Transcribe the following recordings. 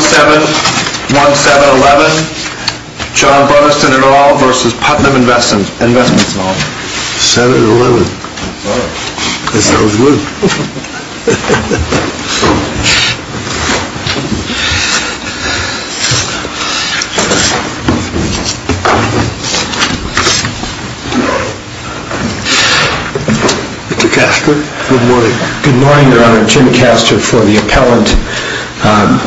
7-1-7-11, John Burston et al. v. Putnam Investments et al. 7-1-7-11. Mr. Castor, good morning. Good morning, Your Honor. Jim Castor for the appellant.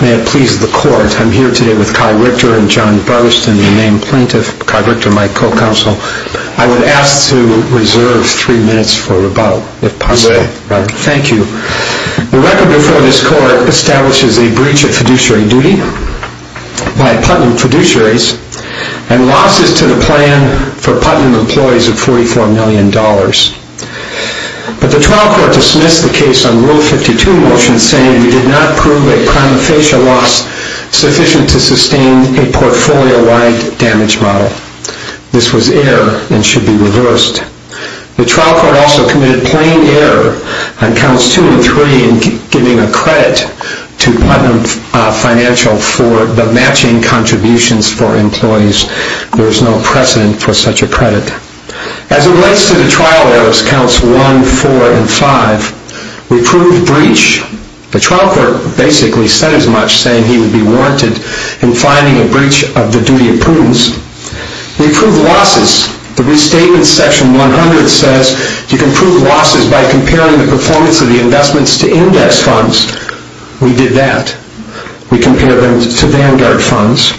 May it please the Court, I'm here today with Kai Richter and John Burston, the main plaintiff. Kai Richter, my co-counsel. I would ask to reserve three minutes for rebuttal, if possible. You may. Thank you. The record before this Court establishes a breach of fiduciary duty by Putnam Fiduciaries and losses to the plan for Putnam employees of $44 million. But the trial court dismissed the case on Rule 52 motions saying we did not prove a prima facie loss sufficient to sustain a portfolio-wide damage model. This was error and should be reversed. The trial court also committed plain error on counts 2 and 3 in giving a credit to Putnam Financial for the matching contributions for employees. There is no precedent for such a credit. As it relates to the trial errors, counts 1, 4, and 5, we proved breach. The trial court basically said as much, saying he would be warranted in finding a breach of the duty of prudence. We proved losses. The Restatement Section 100 says you can prove losses by comparing the performance of the investments to index funds. We did that. We compared them to Vanguard funds.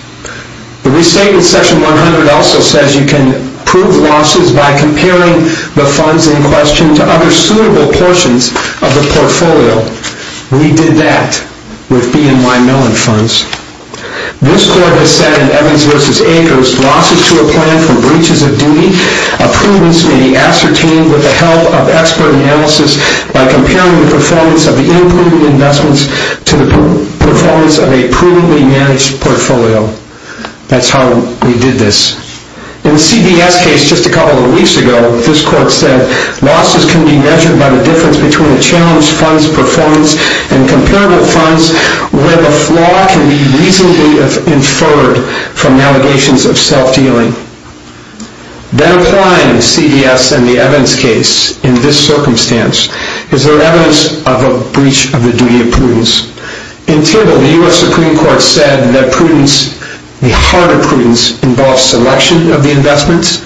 The Restatement Section 100 also says you can prove losses by comparing the funds in question to other suitable portions of the portfolio. We did that with BNY Mellon funds. This court has said in Evans v. Akers, losses to a plan for breaches of duty of prudence may be ascertained with the help of expert analysis by comparing the performance of the unproven investments to the performance of a prudently managed portfolio. That is how we did this. In the CBS case just a couple of weeks ago, this court said losses can be measured by the difference between the challenged funds' performance and comparable funds where the flaw can be reasonably inferred from allegations of self-dealing. That applying CBS and the Evans case in this circumstance is their evidence of a breach of the duty of prudence. In table, the U.S. Supreme Court said that prudence, the heart of prudence, involves selection of the investments,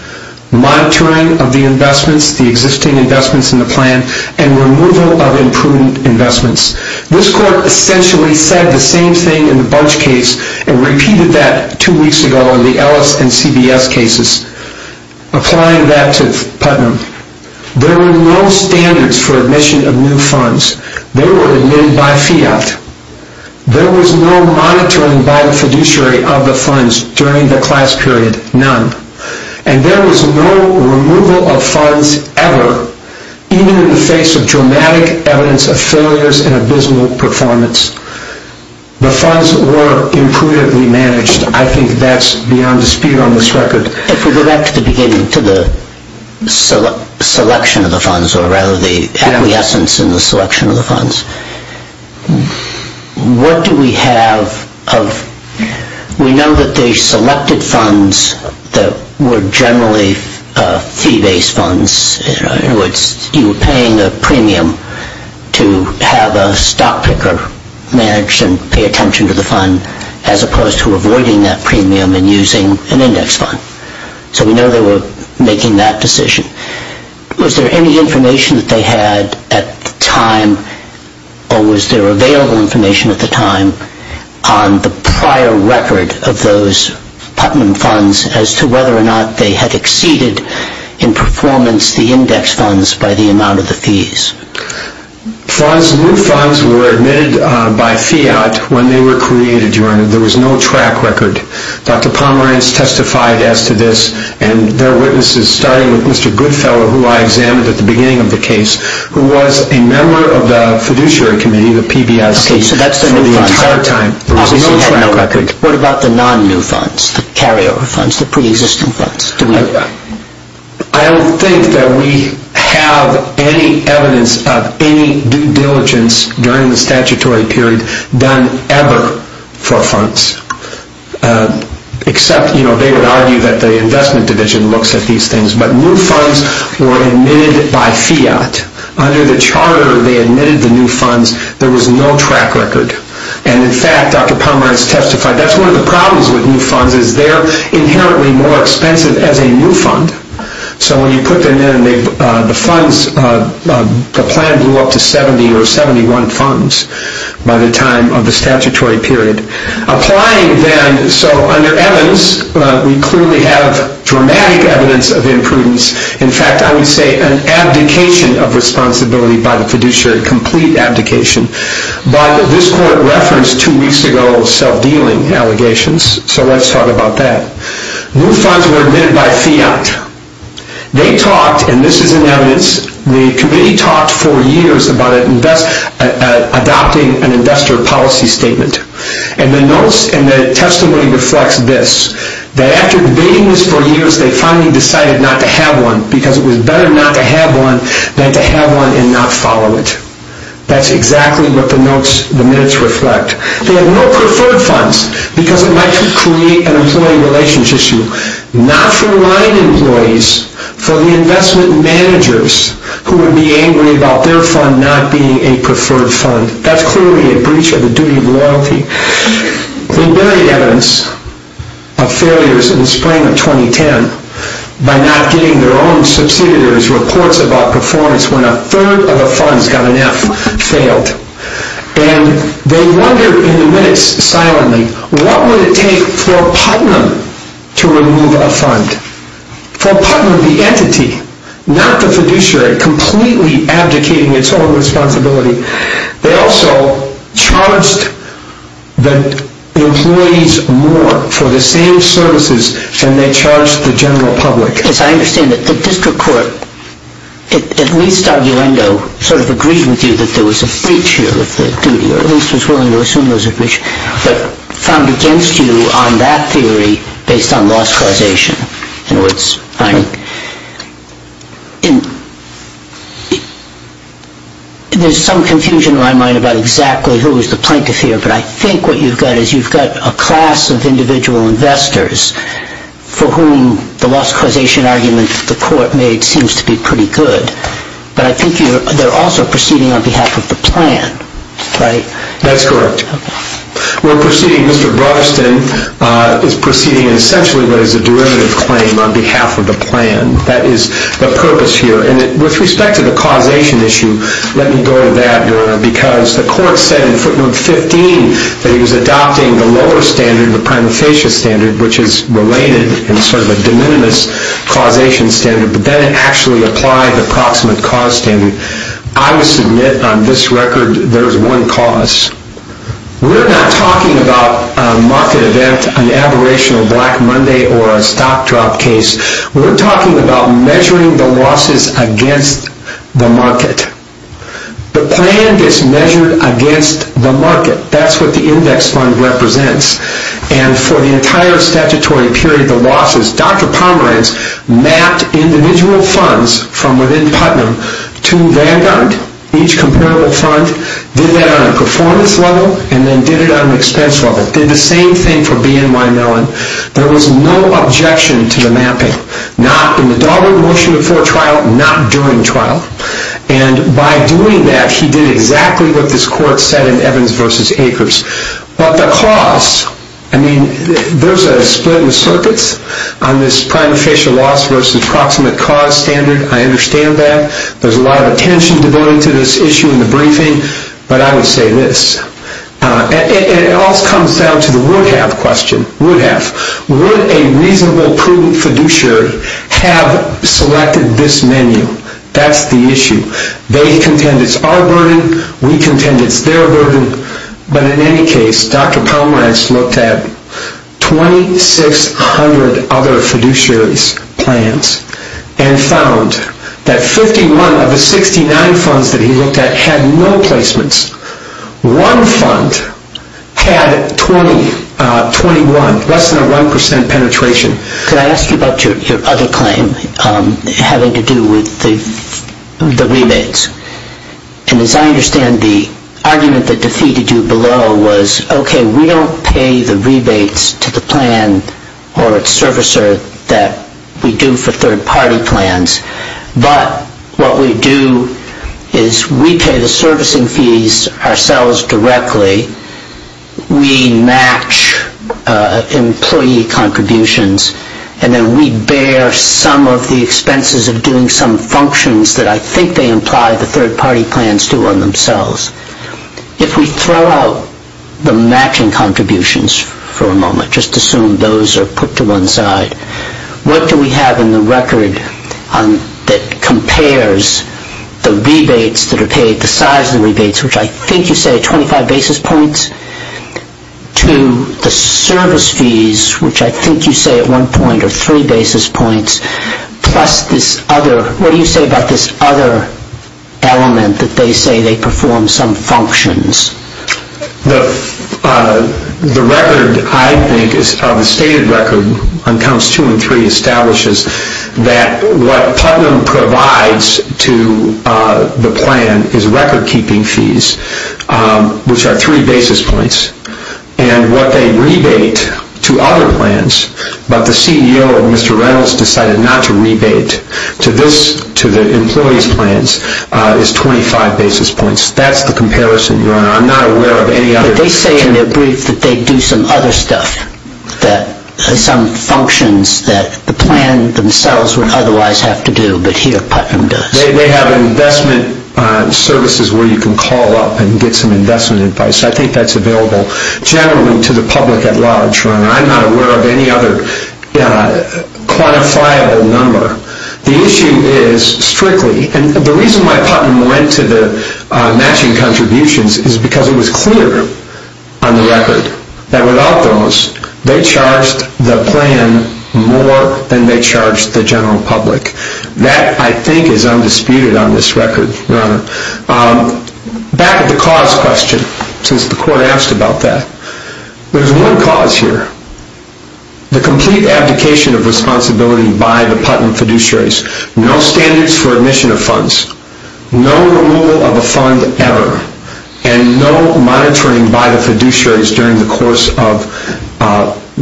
monitoring of the investments, the existing investments in the plan, and removal of imprudent investments. This court essentially said the same thing in the Bunch case and repeated that two weeks ago in the Ellis and CBS cases. Applying that to Putnam, there were no standards for admission of new funds. They were admitted by fiat. There was no monitoring by the fiduciary of the funds during the class period. None. And there was no removal of funds ever, even in the face of dramatic evidence of failures and abysmal performance. The funds were imprudently managed. I think that's beyond dispute on this record. If we go back to the beginning, to the selection of the funds, or rather the acquiescence in the selection of the funds, what do we have of, we know that they selected funds that were generally fee-based funds, in other words you were paying a premium to have a stock picker manage and pay attention to the fund as opposed to avoiding that premium and using an index fund. So we know they were making that decision. Was there any information that they had at the time, or was there available information at the time, on the prior record of those Putnam funds as to whether or not they had exceeded in performance the index funds by the amount of the fees? New funds were admitted by fiat when they were created, Your Honor. There was no track record. Dr. Pomerance testified as to this, and there are witnesses, starting with Mr. Goodfellow, who I examined at the beginning of the case, who was a member of the fiduciary committee, the PBIC, for the entire time. There was no track record. What about the non-new funds, the carryover funds, the pre-existing funds? I don't think that we have any evidence of any due diligence during the statutory period done ever for funds, except they would argue that the investment division looks at these things. But new funds were admitted by fiat. Under the charter, they admitted the new funds. There was no track record. And in fact, Dr. Pomerance testified, that's one of the problems with new funds, is they're inherently more expensive as a new fund. So when you put them in, the funds, the plan blew up to 70 or 71 funds by the time of the statutory period. Applying them, so under Evans, we clearly have dramatic evidence of imprudence. In fact, I would say an abdication of responsibility by the fiduciary, a complete abdication. But this court referenced two weeks ago self-dealing allegations, so let's talk about that. New funds were admitted by fiat. They talked, and this is in evidence, the committee talked for years about adopting an investor policy statement. And the notes and the testimony reflect this, that after debating this for years, they finally decided not to have one, because it was better not to have one than to have one and not follow it. That's exactly what the notes, the minutes reflect. They have no preferred funds, because it might create an employee relations issue, not for line employees, for the investment managers who would be angry about their fund not being a preferred fund. That's clearly a breach of the duty of loyalty. They buried evidence of failures in the spring of 2010 by not getting their own subsidiaries reports about performance when a third of the funds got an F, failed. And they wondered in the minutes, silently, what would it take for Putnam to remove a fund? For Putnam, the entity, not the fiduciary, completely abdicating its own responsibility, they also charged the employees more for the same services than they charged the general public. As I understand it, the district court, at least arguendo, sort of agreed with you that there was a breach here of the duty, or at least was willing to assume there was a breach, but found against you on that theory based on loss causation. There's some confusion in my mind about exactly who is the plaintiff here, but I think what you've got is you've got a class of individual investors for whom the loss causation argument the court made seems to be pretty good, but I think they're also proceeding on behalf of the plan, right? That's correct. We're proceeding, Mr. Broderston is proceeding, essentially, what is a derivative claim on behalf of the plan. That is the purpose here. And with respect to the causation issue, let me go to that, Your Honor, because the court said in footnote 15 that he was adopting the lower standard, the prima facie standard, which is related and sort of a de minimis causation standard, but then it actually applied the approximate cause standard. I would submit on this record there's one cause. We're not talking about a market event, an aberrational Black Monday, or a stock drop case. We're talking about measuring the losses against the market. The plan gets measured against the market. That's what the index fund represents. And for the entire statutory period, the losses, Dr. Pomerantz mapped individual funds from within Putnam to Vanguard, each comparable fund, did that on a performance level, and then did it on an expense level. Did the same thing for BNY Mellon. There was no objection to the mapping. Not in the Dahlberg motion before trial, not during trial. And by doing that, he did exactly what this court said in Evans v. Akers. But the cause, I mean, there's a split in the circuits on this prima facie loss versus approximate cause standard. I understand that. There's a lot of attention devoted to this issue in the briefing, but I would say this. It also comes down to the would have question, would have. Would a reasonable, prudent fiduciary have selected this menu? That's the issue. They contend it's our burden. We contend it's their burden. But in any case, Dr. Pomerantz looked at 2,600 other fiduciaries' plans and found that 51 of the 69 funds that he looked at had no placements. One fund had 20, 21, less than a 1% penetration. Could I ask you about your other claim having to do with the rebates? And as I understand, the argument that defeated you below was, okay, we don't pay the rebates to the plan or its servicer that we do for third-party plans, but what we do is we pay the servicing fees ourselves directly, we match employee contributions, and then we bear some of the expenses of doing some functions that I think they imply the third-party plans do on themselves. If we throw out the matching contributions for a moment, just assume those are put to one side, what do we have in the record that compares the rebates that are paid, the size of the rebates, which I think you say are 25 basis points, to the service fees, which I think you say at one point are three basis points, plus this other, what do you say about this other element that they say they perform some functions? The record, I think, the stated record on counts two and three establishes that what Putnam provides to the plan is record-keeping fees, which are three basis points, and what they rebate to other plans, but the CEO of Mr. Reynolds decided not to rebate to the employees' plans, is 25 basis points. That's the comparison, Your Honor. I'm not aware of any other... But they say in their brief that they do some other stuff, some functions that the plan themselves would otherwise have to do, but here Putnam does. They have investment services where you can call up and get some investment advice. I think that's available generally to the public at large, Your Honor. I'm not aware of any other quantifiable number. The issue is strictly, and the reason why Putnam went to the matching contributions is because it was clear on the record that without those, they charged the plan more than they charged the general public. That, I think, is undisputed on this record, Your Honor. Back to the cause question, since the court asked about that. There's one cause here. The complete abdication of responsibility by the Putnam fiduciaries. No standards for admission of funds. No removal of a fund ever. And no monitoring by the fiduciaries during the course of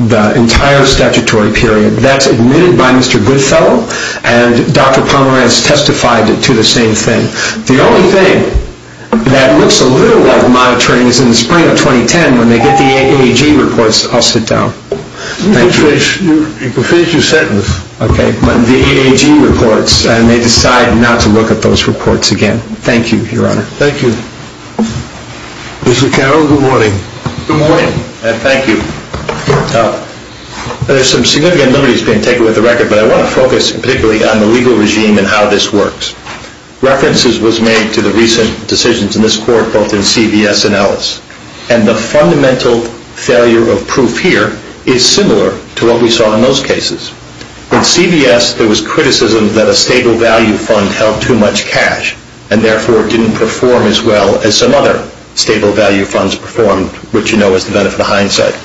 the entire statutory period. That's admitted by Mr. Goodfellow, and Dr. Pomerantz testified to the same thing. The only thing that looks a little like monitoring is in the spring of 2010 when they get the AAG reports. I'll sit down. You can finish your sentence. Okay. The AAG reports, and they decide not to look at those reports again. Thank you, Your Honor. Thank you. Mr. Carroll, good morning. Good morning, and thank you. There's some significant limitations being taken with the record, but I want to focus particularly on the legal regime and how this works. References was made to the recent decisions in this court both in CVS and Ellis, and the fundamental failure of proof here is similar to what we saw in those cases. In CVS, there was criticism that a stable value fund held too much cash and therefore didn't perform as well as some other stable value funds performed, which you know is the benefit of hindsight.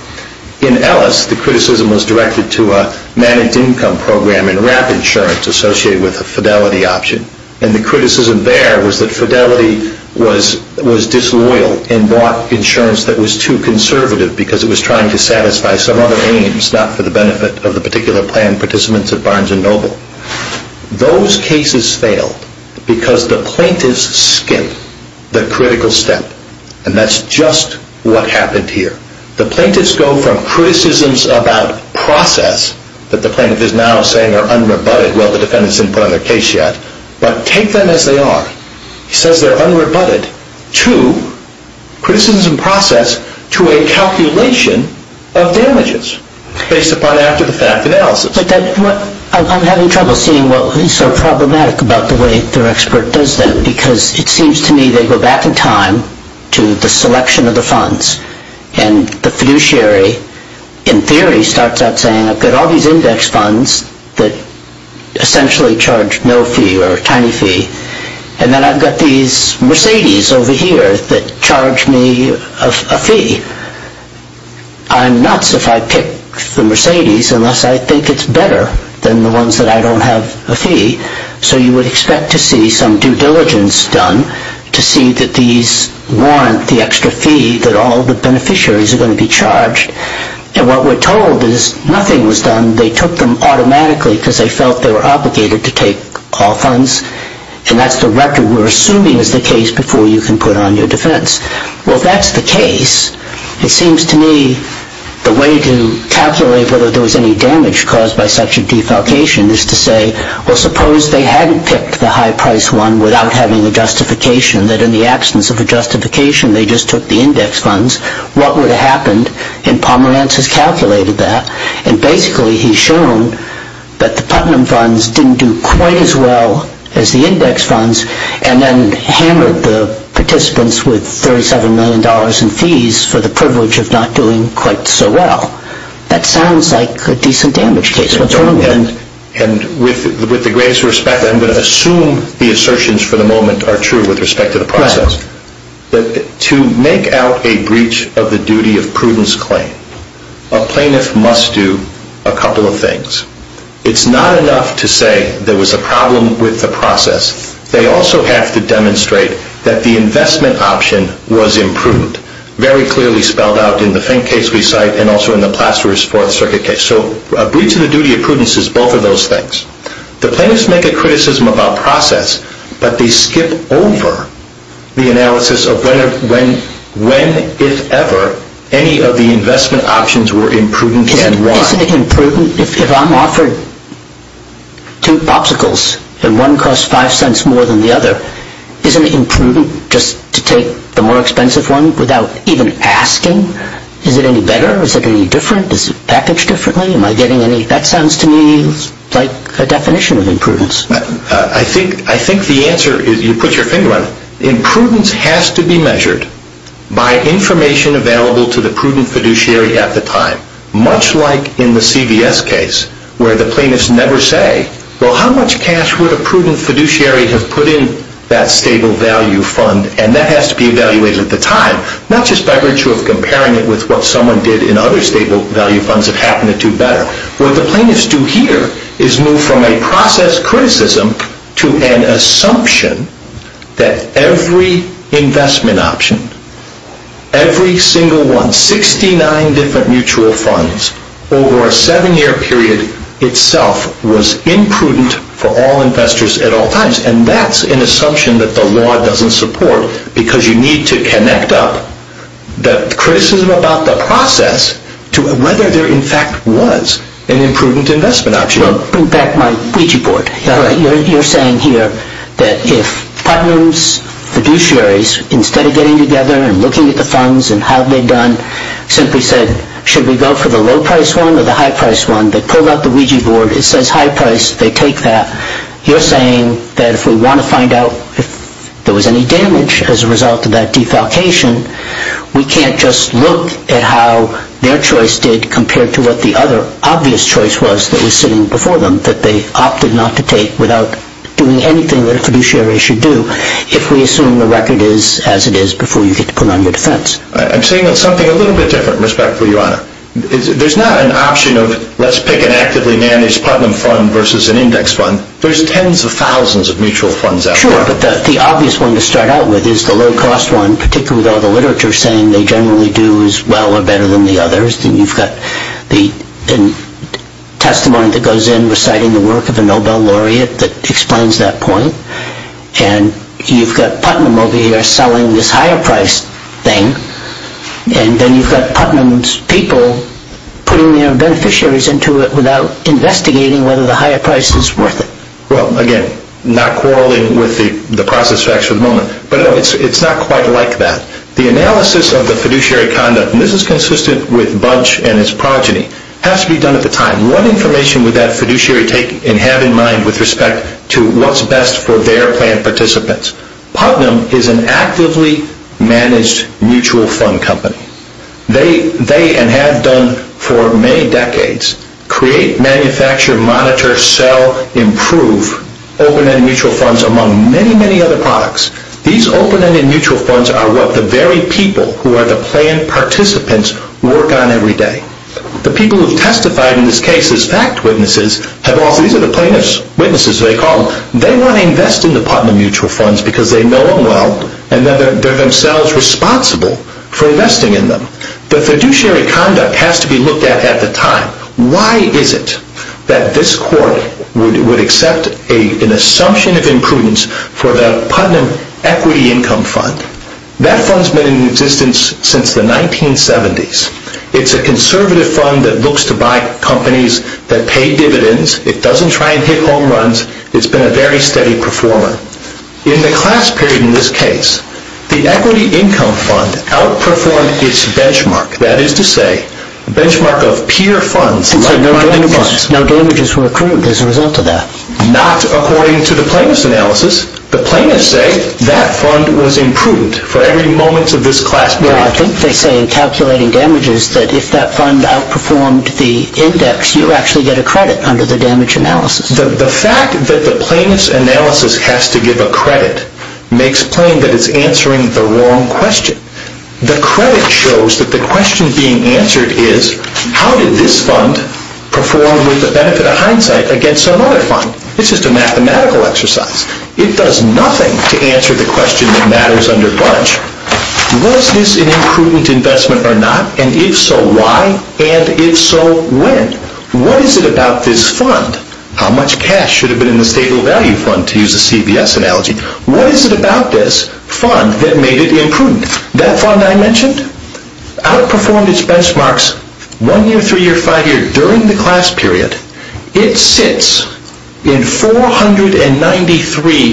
In Ellis, the criticism was directed to a managed income program and RAP insurance associated with a fidelity option, and the criticism there was that fidelity was disloyal and bought insurance that was too conservative because it was trying to satisfy some other aims, not for the benefit of the particular plan participants at Barnes & Noble. Those cases failed because the plaintiffs skipped the critical step, and that's just what happened here. The plaintiffs go from criticisms about process that the plaintiff is now saying are unrebutted, well, the defendants didn't put on their case yet, but take them as they are. He says they're unrebutted to criticism process to a calculation of damages based upon after the fact analysis. I'm having trouble seeing what is so problematic about the way their expert does that when the fiduciary, in theory, starts out saying I've got all these index funds that essentially charge no fee or a tiny fee, and then I've got these Mercedes over here that charge me a fee. I'm nuts if I pick the Mercedes unless I think it's better than the ones that I don't have a fee, so you would expect to see some due diligence done to see that these warrant the extra fee that all the beneficiaries are going to be charged, and what we're told is nothing was done. They took them automatically because they felt they were obligated to take all funds, and that's the record we're assuming is the case before you can put on your defense. Well, if that's the case, it seems to me the way to calculate whether there was any damage caused by such a defalcation is to say, well, suppose they hadn't picked the high-priced one without having a justification, that in the absence of a justification they just took the index funds. What would have happened, and Pomerantz has calculated that, and basically he's shown that the Putnam funds didn't do quite as well as the index funds and then hammered the participants with $37 million in fees for the privilege of not doing quite so well. That sounds like a decent damage case. With the greatest respect, I'm going to assume the assertions for the moment are true with respect to the process. To make out a breach of the duty of prudence claim, a plaintiff must do a couple of things. It's not enough to say there was a problem with the process. They also have to demonstrate that the investment option was improved, very clearly spelled out in the faint case we cite and also in the placerous Fourth Circuit case. So a breach of the duty of prudence is both of those things. The plaintiffs make a criticism about process, but they skip over the analysis of when, if ever, any of the investment options were imprudent and why. If I'm offered two popsicles and one costs five cents more than the other, isn't it imprudent just to take the more expensive one without even asking? Is it any better? Is it any different? Is it packaged differently? That sounds to me like a definition of imprudence. I think the answer is, you put your finger on it, imprudence has to be measured by information available to the prudent fiduciary at the time, much like in the CVS case where the plaintiffs never say, well, how much cash would a prudent fiduciary have put in that stable value fund? And that has to be evaluated at the time, not just by virtue of comparing it with what someone did in other stable value funds that happened to do better. What the plaintiffs do here is move from a process criticism to an assumption that every investment option, every single one, 69 different mutual funds, over a seven-year period itself was imprudent for all investors at all times. And that's an assumption that the law doesn't support, because you need to connect up the criticism about the process to whether there in fact was an imprudent investment option. I'll bring back my Ouija board. You're saying here that if problems, fiduciaries, instead of getting together and looking at the funds and how they've done, simply said, should we go for the low-priced one or the high-priced one, they pulled out the Ouija board, it says high-priced, they take that. You're saying that if we want to find out if there was any damage as a result of that defalcation, we can't just look at how their choice did compared to what the other obvious choice was that was sitting before them that they opted not to take without doing anything that a fiduciary should do if we assume the record is as it is before you get to put on your defense. I'm saying that's something a little bit different, respectfully, Your Honor. There's not an option of let's pick an actively managed Putnam fund versus an index fund. There's tens of thousands of mutual funds out there. Sure, but the obvious one to start out with is the low-cost one, particularly though the literature is saying they generally do as well or better than the others. You've got the testimony that goes in reciting the work of a Nobel laureate that explains that point, and you've got Putnam over here selling this higher-priced thing, and then you've got Putnam's people putting their beneficiaries into it without investigating whether the higher price is worth it. Well, again, not quarreling with the process facts for the moment, but it's not quite like that. The analysis of the fiduciary conduct, and this is consistent with Bunch and his progeny, has to be done at the time. What information would that fiduciary take and have in mind with respect to what's best for their planned participants? Putnam is an actively managed mutual fund company. They, and have done for many decades, create, manufacture, monitor, sell, improve open-ended mutual funds among many, many other products. These open-ended mutual funds are what the very people who are the planned participants work on every day. The people who have testified in this case as fact witnesses, these are the plaintiffs' witnesses, as they call them, they want to invest in the Putnam mutual funds because they know them well and they're themselves responsible for investing in them. The fiduciary conduct has to be looked at at the time. Why is it that this court would accept an assumption of imprudence for the Putnam equity income fund? That fund's been in existence since the 1970s. It's a conservative fund that looks to buy companies that pay dividends. It doesn't try and hit home runs. It's been a very steady performer. In the class period in this case, the equity income fund outperformed its benchmark, that is to say, the benchmark of peer funds like money funds. So no damages were accrued as a result of that? Not according to the plaintiff's analysis. The plaintiffs say that fund was imprudent for every moment of this class period. Well, I think they say in calculating damages that if that fund outperformed the index, you actually get a credit under the damage analysis. The fact that the plaintiff's analysis has to give a credit makes plain that it's answering the wrong question. The credit shows that the question being answered is, how did this fund perform with the benefit of hindsight against another fund? It's just a mathematical exercise. It does nothing to answer the question that matters under budge. Was this an imprudent investment or not? And if so, why? And if so, when? What is it about this fund? How much cash should have been in the stable value fund to use a CVS analogy? What is it about this fund that made it imprudent? That fund I mentioned outperformed its benchmarks one year, three year, five year during the class period. It sits in 493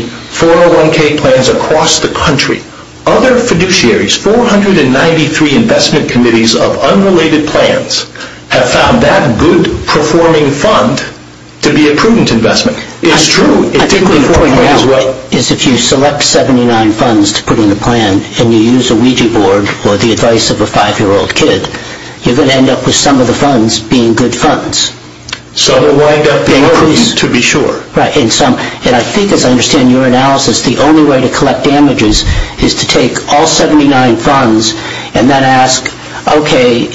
401k plans across the country. Other fiduciaries, 493 investment committees of unrelated plans, have found that good performing fund to be a prudent investment. It's true. I think what you're pointing out is if you select 79 funds to put in a plan and you use a Ouija board or the advice of a five-year-old kid, you're going to end up with some of the funds being good funds. Some will wind up being prudent to be sure. Right. And I think as I understand your analysis, the only way to collect damages is to take all 79 funds and then ask, okay,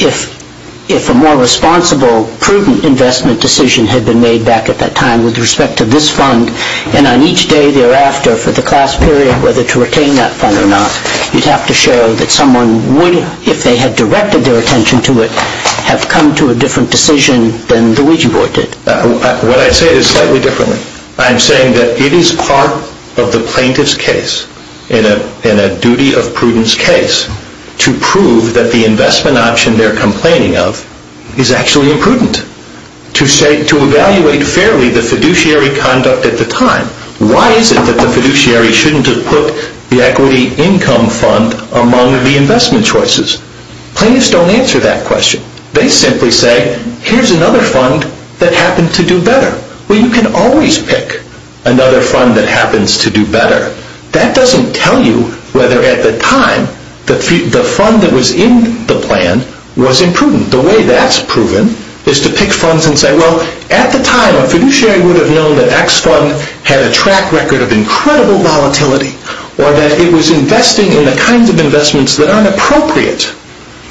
if a more responsible prudent investment decision had been made back at that time with respect to this fund, and on each day thereafter for the class period whether to retain that fund or not, you'd have to show that someone would, if they had directed their attention to it, have come to a different decision than the Ouija board did. What I say is slightly different. I'm saying that it is part of the plaintiff's case and a duty of prudence case to prove that the investment option they're complaining of is actually imprudent. To evaluate fairly the fiduciary conduct at the time, why is it that the fiduciary shouldn't have put the equity income fund among the investment choices? Plaintiffs don't answer that question. They simply say, here's another fund that happened to do better. Well, you can always pick another fund that happens to do better. That doesn't tell you whether at the time the fund that was in the plan was imprudent. The way that's proven is to pick funds and say, well, at the time a fiduciary would have known that X fund had a track record of incredible volatility or that it was investing in the kinds of investments that aren't appropriate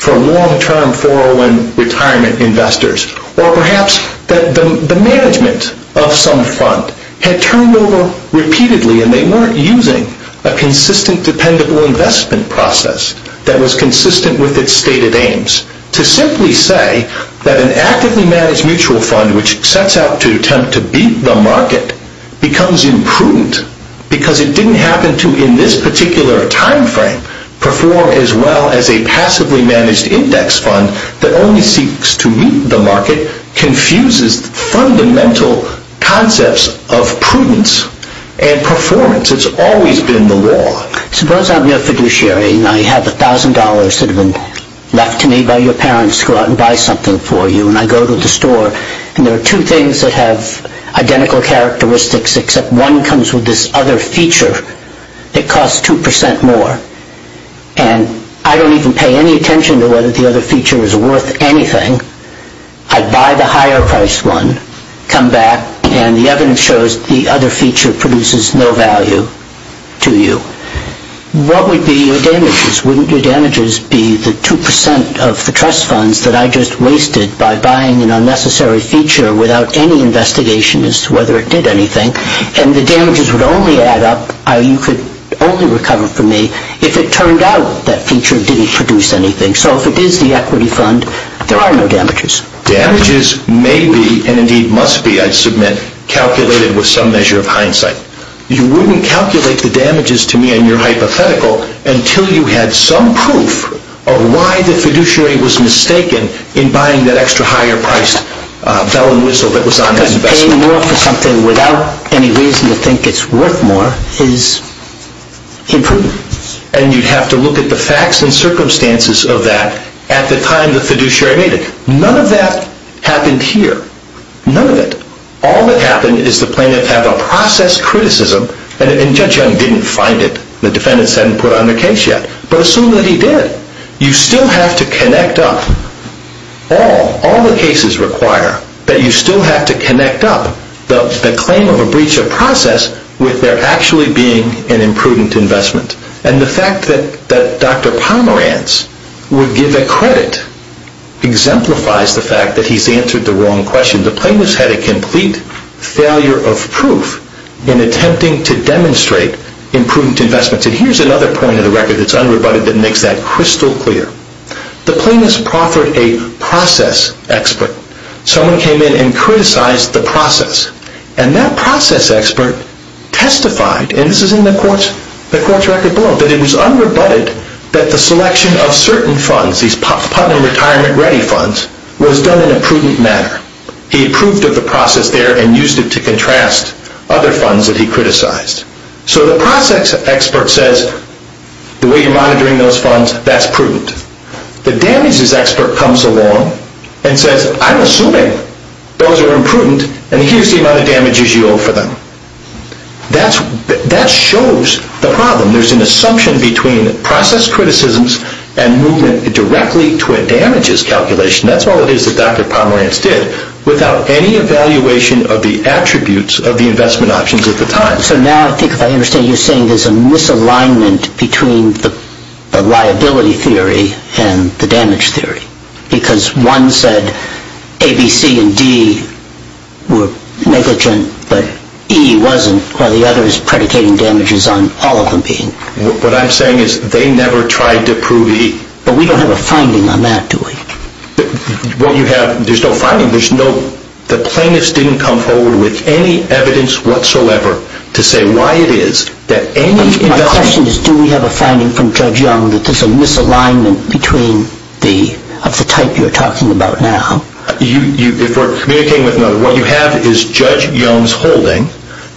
for long-term 401 retirement investors or perhaps that the management of some fund had turned over repeatedly and they weren't using a consistent dependable investment process that was consistent with its stated aims. To simply say that an actively managed mutual fund which sets out to attempt to beat the market becomes imprudent because it didn't happen to, in this particular time frame, perform as well as a passively managed index fund that only seeks to meet the market confuses fundamental concepts of prudence and performance. It's always been the law. Suppose I'm your fiduciary and I have $1,000 that have been left to me by your parents to go out and buy something for you and I go to the store and there are two things that have identical characteristics except one comes with this other feature that costs 2% more and I don't even pay any attention to whether the other feature is worth anything. I buy the higher priced one, come back, and the evidence shows the other feature produces no value to you. What would be your damages? The damages would be the 2% of the trust funds that I just wasted by buying an unnecessary feature without any investigation as to whether it did anything and the damages would only add up, you could only recover from me, if it turned out that feature didn't produce anything. So if it is the equity fund, there are no damages. Damages may be, and indeed must be, I submit, calculated with some measure of hindsight. You wouldn't calculate the damages to me in your hypothetical until you had some proof of why the fiduciary was mistaken in buying that extra higher priced bell and whistle that was on his investment. Paying more for something without any reason to think it's worth more is imprudent. And you'd have to look at the facts and circumstances of that at the time the fiduciary made it. None of that happened here. None of it. All that happened is the plaintiff had a process criticism, and Judge Young didn't find it, the defendants hadn't put on the case yet, but assume that he did. You still have to connect up, all the cases require that you still have to connect up the claim of a breach of process with there actually being an imprudent investment. And the fact that Dr. Pomerantz would give a credit exemplifies the fact that he's answered the wrong question. The plaintiff's had a complete failure of proof in attempting to demonstrate imprudent investments. And here's another point of the record that's unrebutted that makes that crystal clear. The plaintiff's proffered a process expert. Someone came in and criticized the process. And that process expert testified, and this is in the court's record below, that it was unrebutted that the selection of certain funds, these Putnam Retirement Ready funds, was done in a prudent manner. He approved of the process there and used it to contrast other funds that he criticized. So the process expert says, the way you're monitoring those funds, that's prudent. The damages expert comes along and says, I'm assuming those are imprudent and here's the amount of damages you owe for them. That shows the problem. There's an assumption between process criticisms and movement directly to a damages calculation. That's all it is that Dr. Pomerantz did, without any evaluation of the attributes of the investment options at the time. So now I think if I understand you're saying there's a misalignment between the liability theory and the damage theory, because one said A, B, C, and D were negligent, but E wasn't, while the other is predicating damages on all of them being. What I'm saying is they never tried to prove E. But we don't have a finding on that, do we? There's no finding. The plaintiffs didn't come forward with any evidence whatsoever to say why it is that any investment... My question is, do we have a finding from Judge Young that there's a misalignment of the type you're talking about now? If we're communicating with another, what you have is Judge Young's holding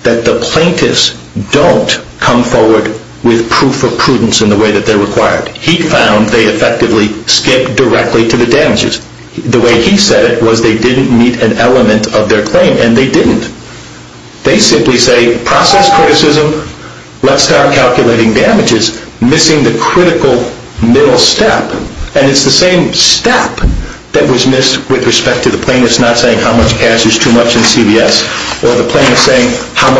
that the plaintiffs don't come forward with proof of prudence in the way that they're required. He found they effectively skipped directly to the damages. The way he said it was they didn't meet an element of their claim, and they didn't. They simply say process criticism, let's start calculating damages, missing the critical middle step. And it's the same step that was missed with respect to the plaintiffs It's not saying how much cash is too much in CVS, or the plaintiffs saying how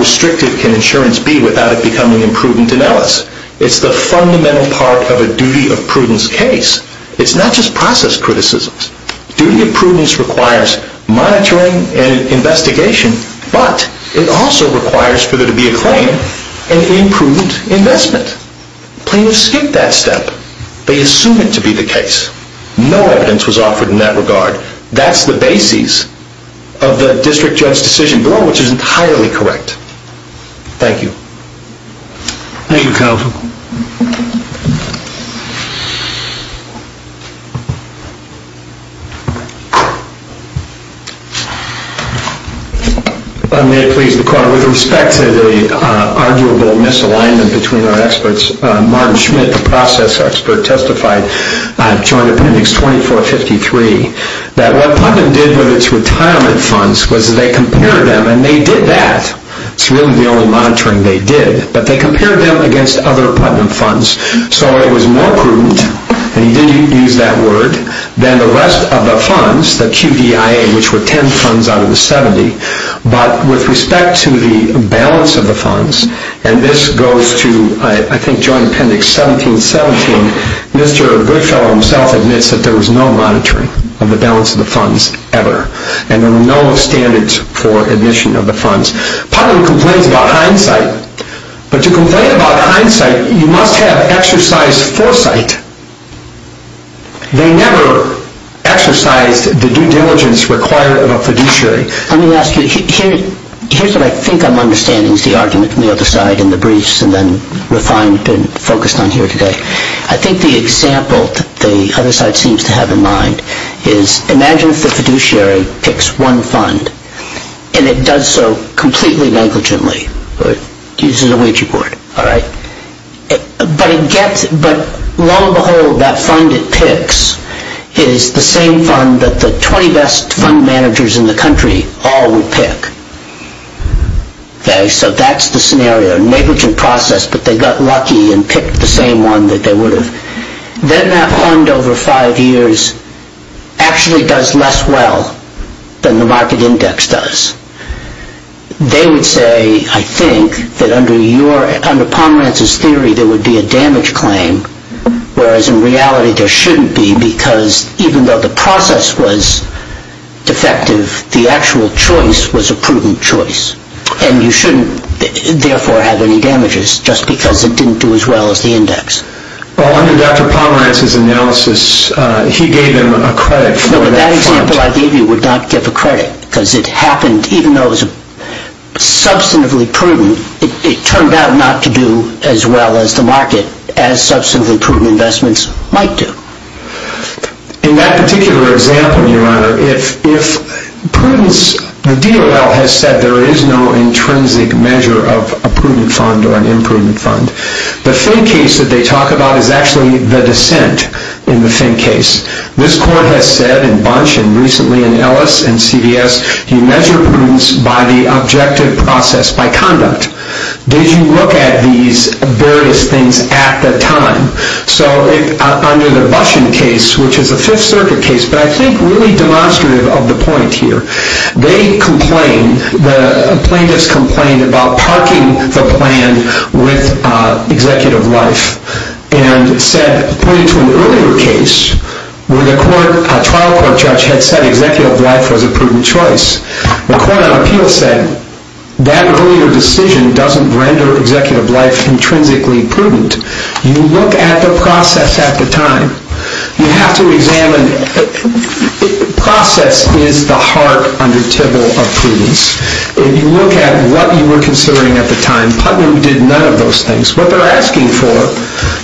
restrictive can insurance be without it becoming imprudent in Ellis. It's the fundamental part of a duty of prudence case. It's not just process criticisms. Duty of prudence requires monitoring and investigation, but it also requires for there to be a claim and imprudent investment. Plaintiffs skipped that step. They assumed it to be the case. No evidence was offered in that regard. That's the basis of the district judge's decision, which is entirely correct. Thank you. Thank you, counsel. May it please the court, with respect to the arguable misalignment between our experts, Martin Schmidt, the process expert, testified, joint appendix 2453, that what Putnam did with its retirement funds was they compared them, and they did that. It's really the only monitoring they did. But they compared them against other Putnam funds. So it was more prudent, and he did use that word, than the rest of the funds, the QDIA, which were 10 funds out of the 70. But with respect to the balance of the funds, and this goes to, I think, joint appendix 1717, Mr. Goodfellow himself admits that there was no monitoring of the balance of the funds ever, and there were no standards for admission of the funds. Putnam complains about hindsight, but to complain about hindsight, you must have exercised foresight. They never exercised the due diligence required of a fiduciary. Let me ask you, here's what I think I'm understanding is the argument from the other side in the briefs, and then refined and focused on here today. I think the example that the other side seems to have in mind is, imagine if the fiduciary picks one fund, and it does so completely negligently, or it uses a wager board, all right? But lo and behold, that fund it picks is the same fund that the 20 best fund managers in the country all would pick. So that's the scenario, negligent process, but they got lucky and picked the same one that they would have. Then that fund, over five years, actually does less well than the market index does. They would say, I think, that under Pomerantz's theory there would be a damage claim, whereas in reality there shouldn't be, because even though the process was defective, the actual choice was a prudent choice, and you shouldn't therefore have any damages, just because it didn't do as well as the index. Well, under Dr. Pomerantz's analysis, he gave them a credit for that fund. The example I gave you would not give a credit, because it happened, even though it was substantively prudent, it turned out not to do as well as the market, as substantively prudent investments might do. In that particular example, Your Honor, if prudence, the DOL has said there is no intrinsic measure of a prudent fund or an imprudent fund. The Finn case that they talk about is actually the dissent in the Finn case. This court has said in Bunch and recently in Ellis and CVS, you measure prudence by the objective process, by conduct. Did you look at these various things at the time? So under the Bueschen case, which is a Fifth Circuit case, but I think really demonstrative of the point here, they complain, the plaintiffs complain about parking the plan with Executive Life, and said, pointing to an earlier case where the trial court judge had said Executive Life was a prudent choice. The court on appeal said, that earlier decision doesn't render Executive Life intrinsically prudent. You look at the process at the time. You have to examine, process is the heart under Tybalt of prudence. If you look at what you were considering at the time, Putnam did none of those things. What they are asking for,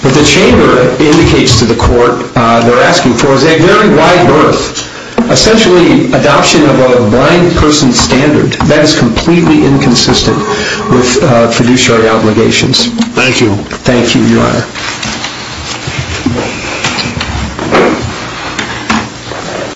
what the chamber indicates to the court, they are asking for is a very wide berth, essentially adoption of a blind person standard. That is completely inconsistent with fiduciary obligations. Thank you. Thank you, your honor.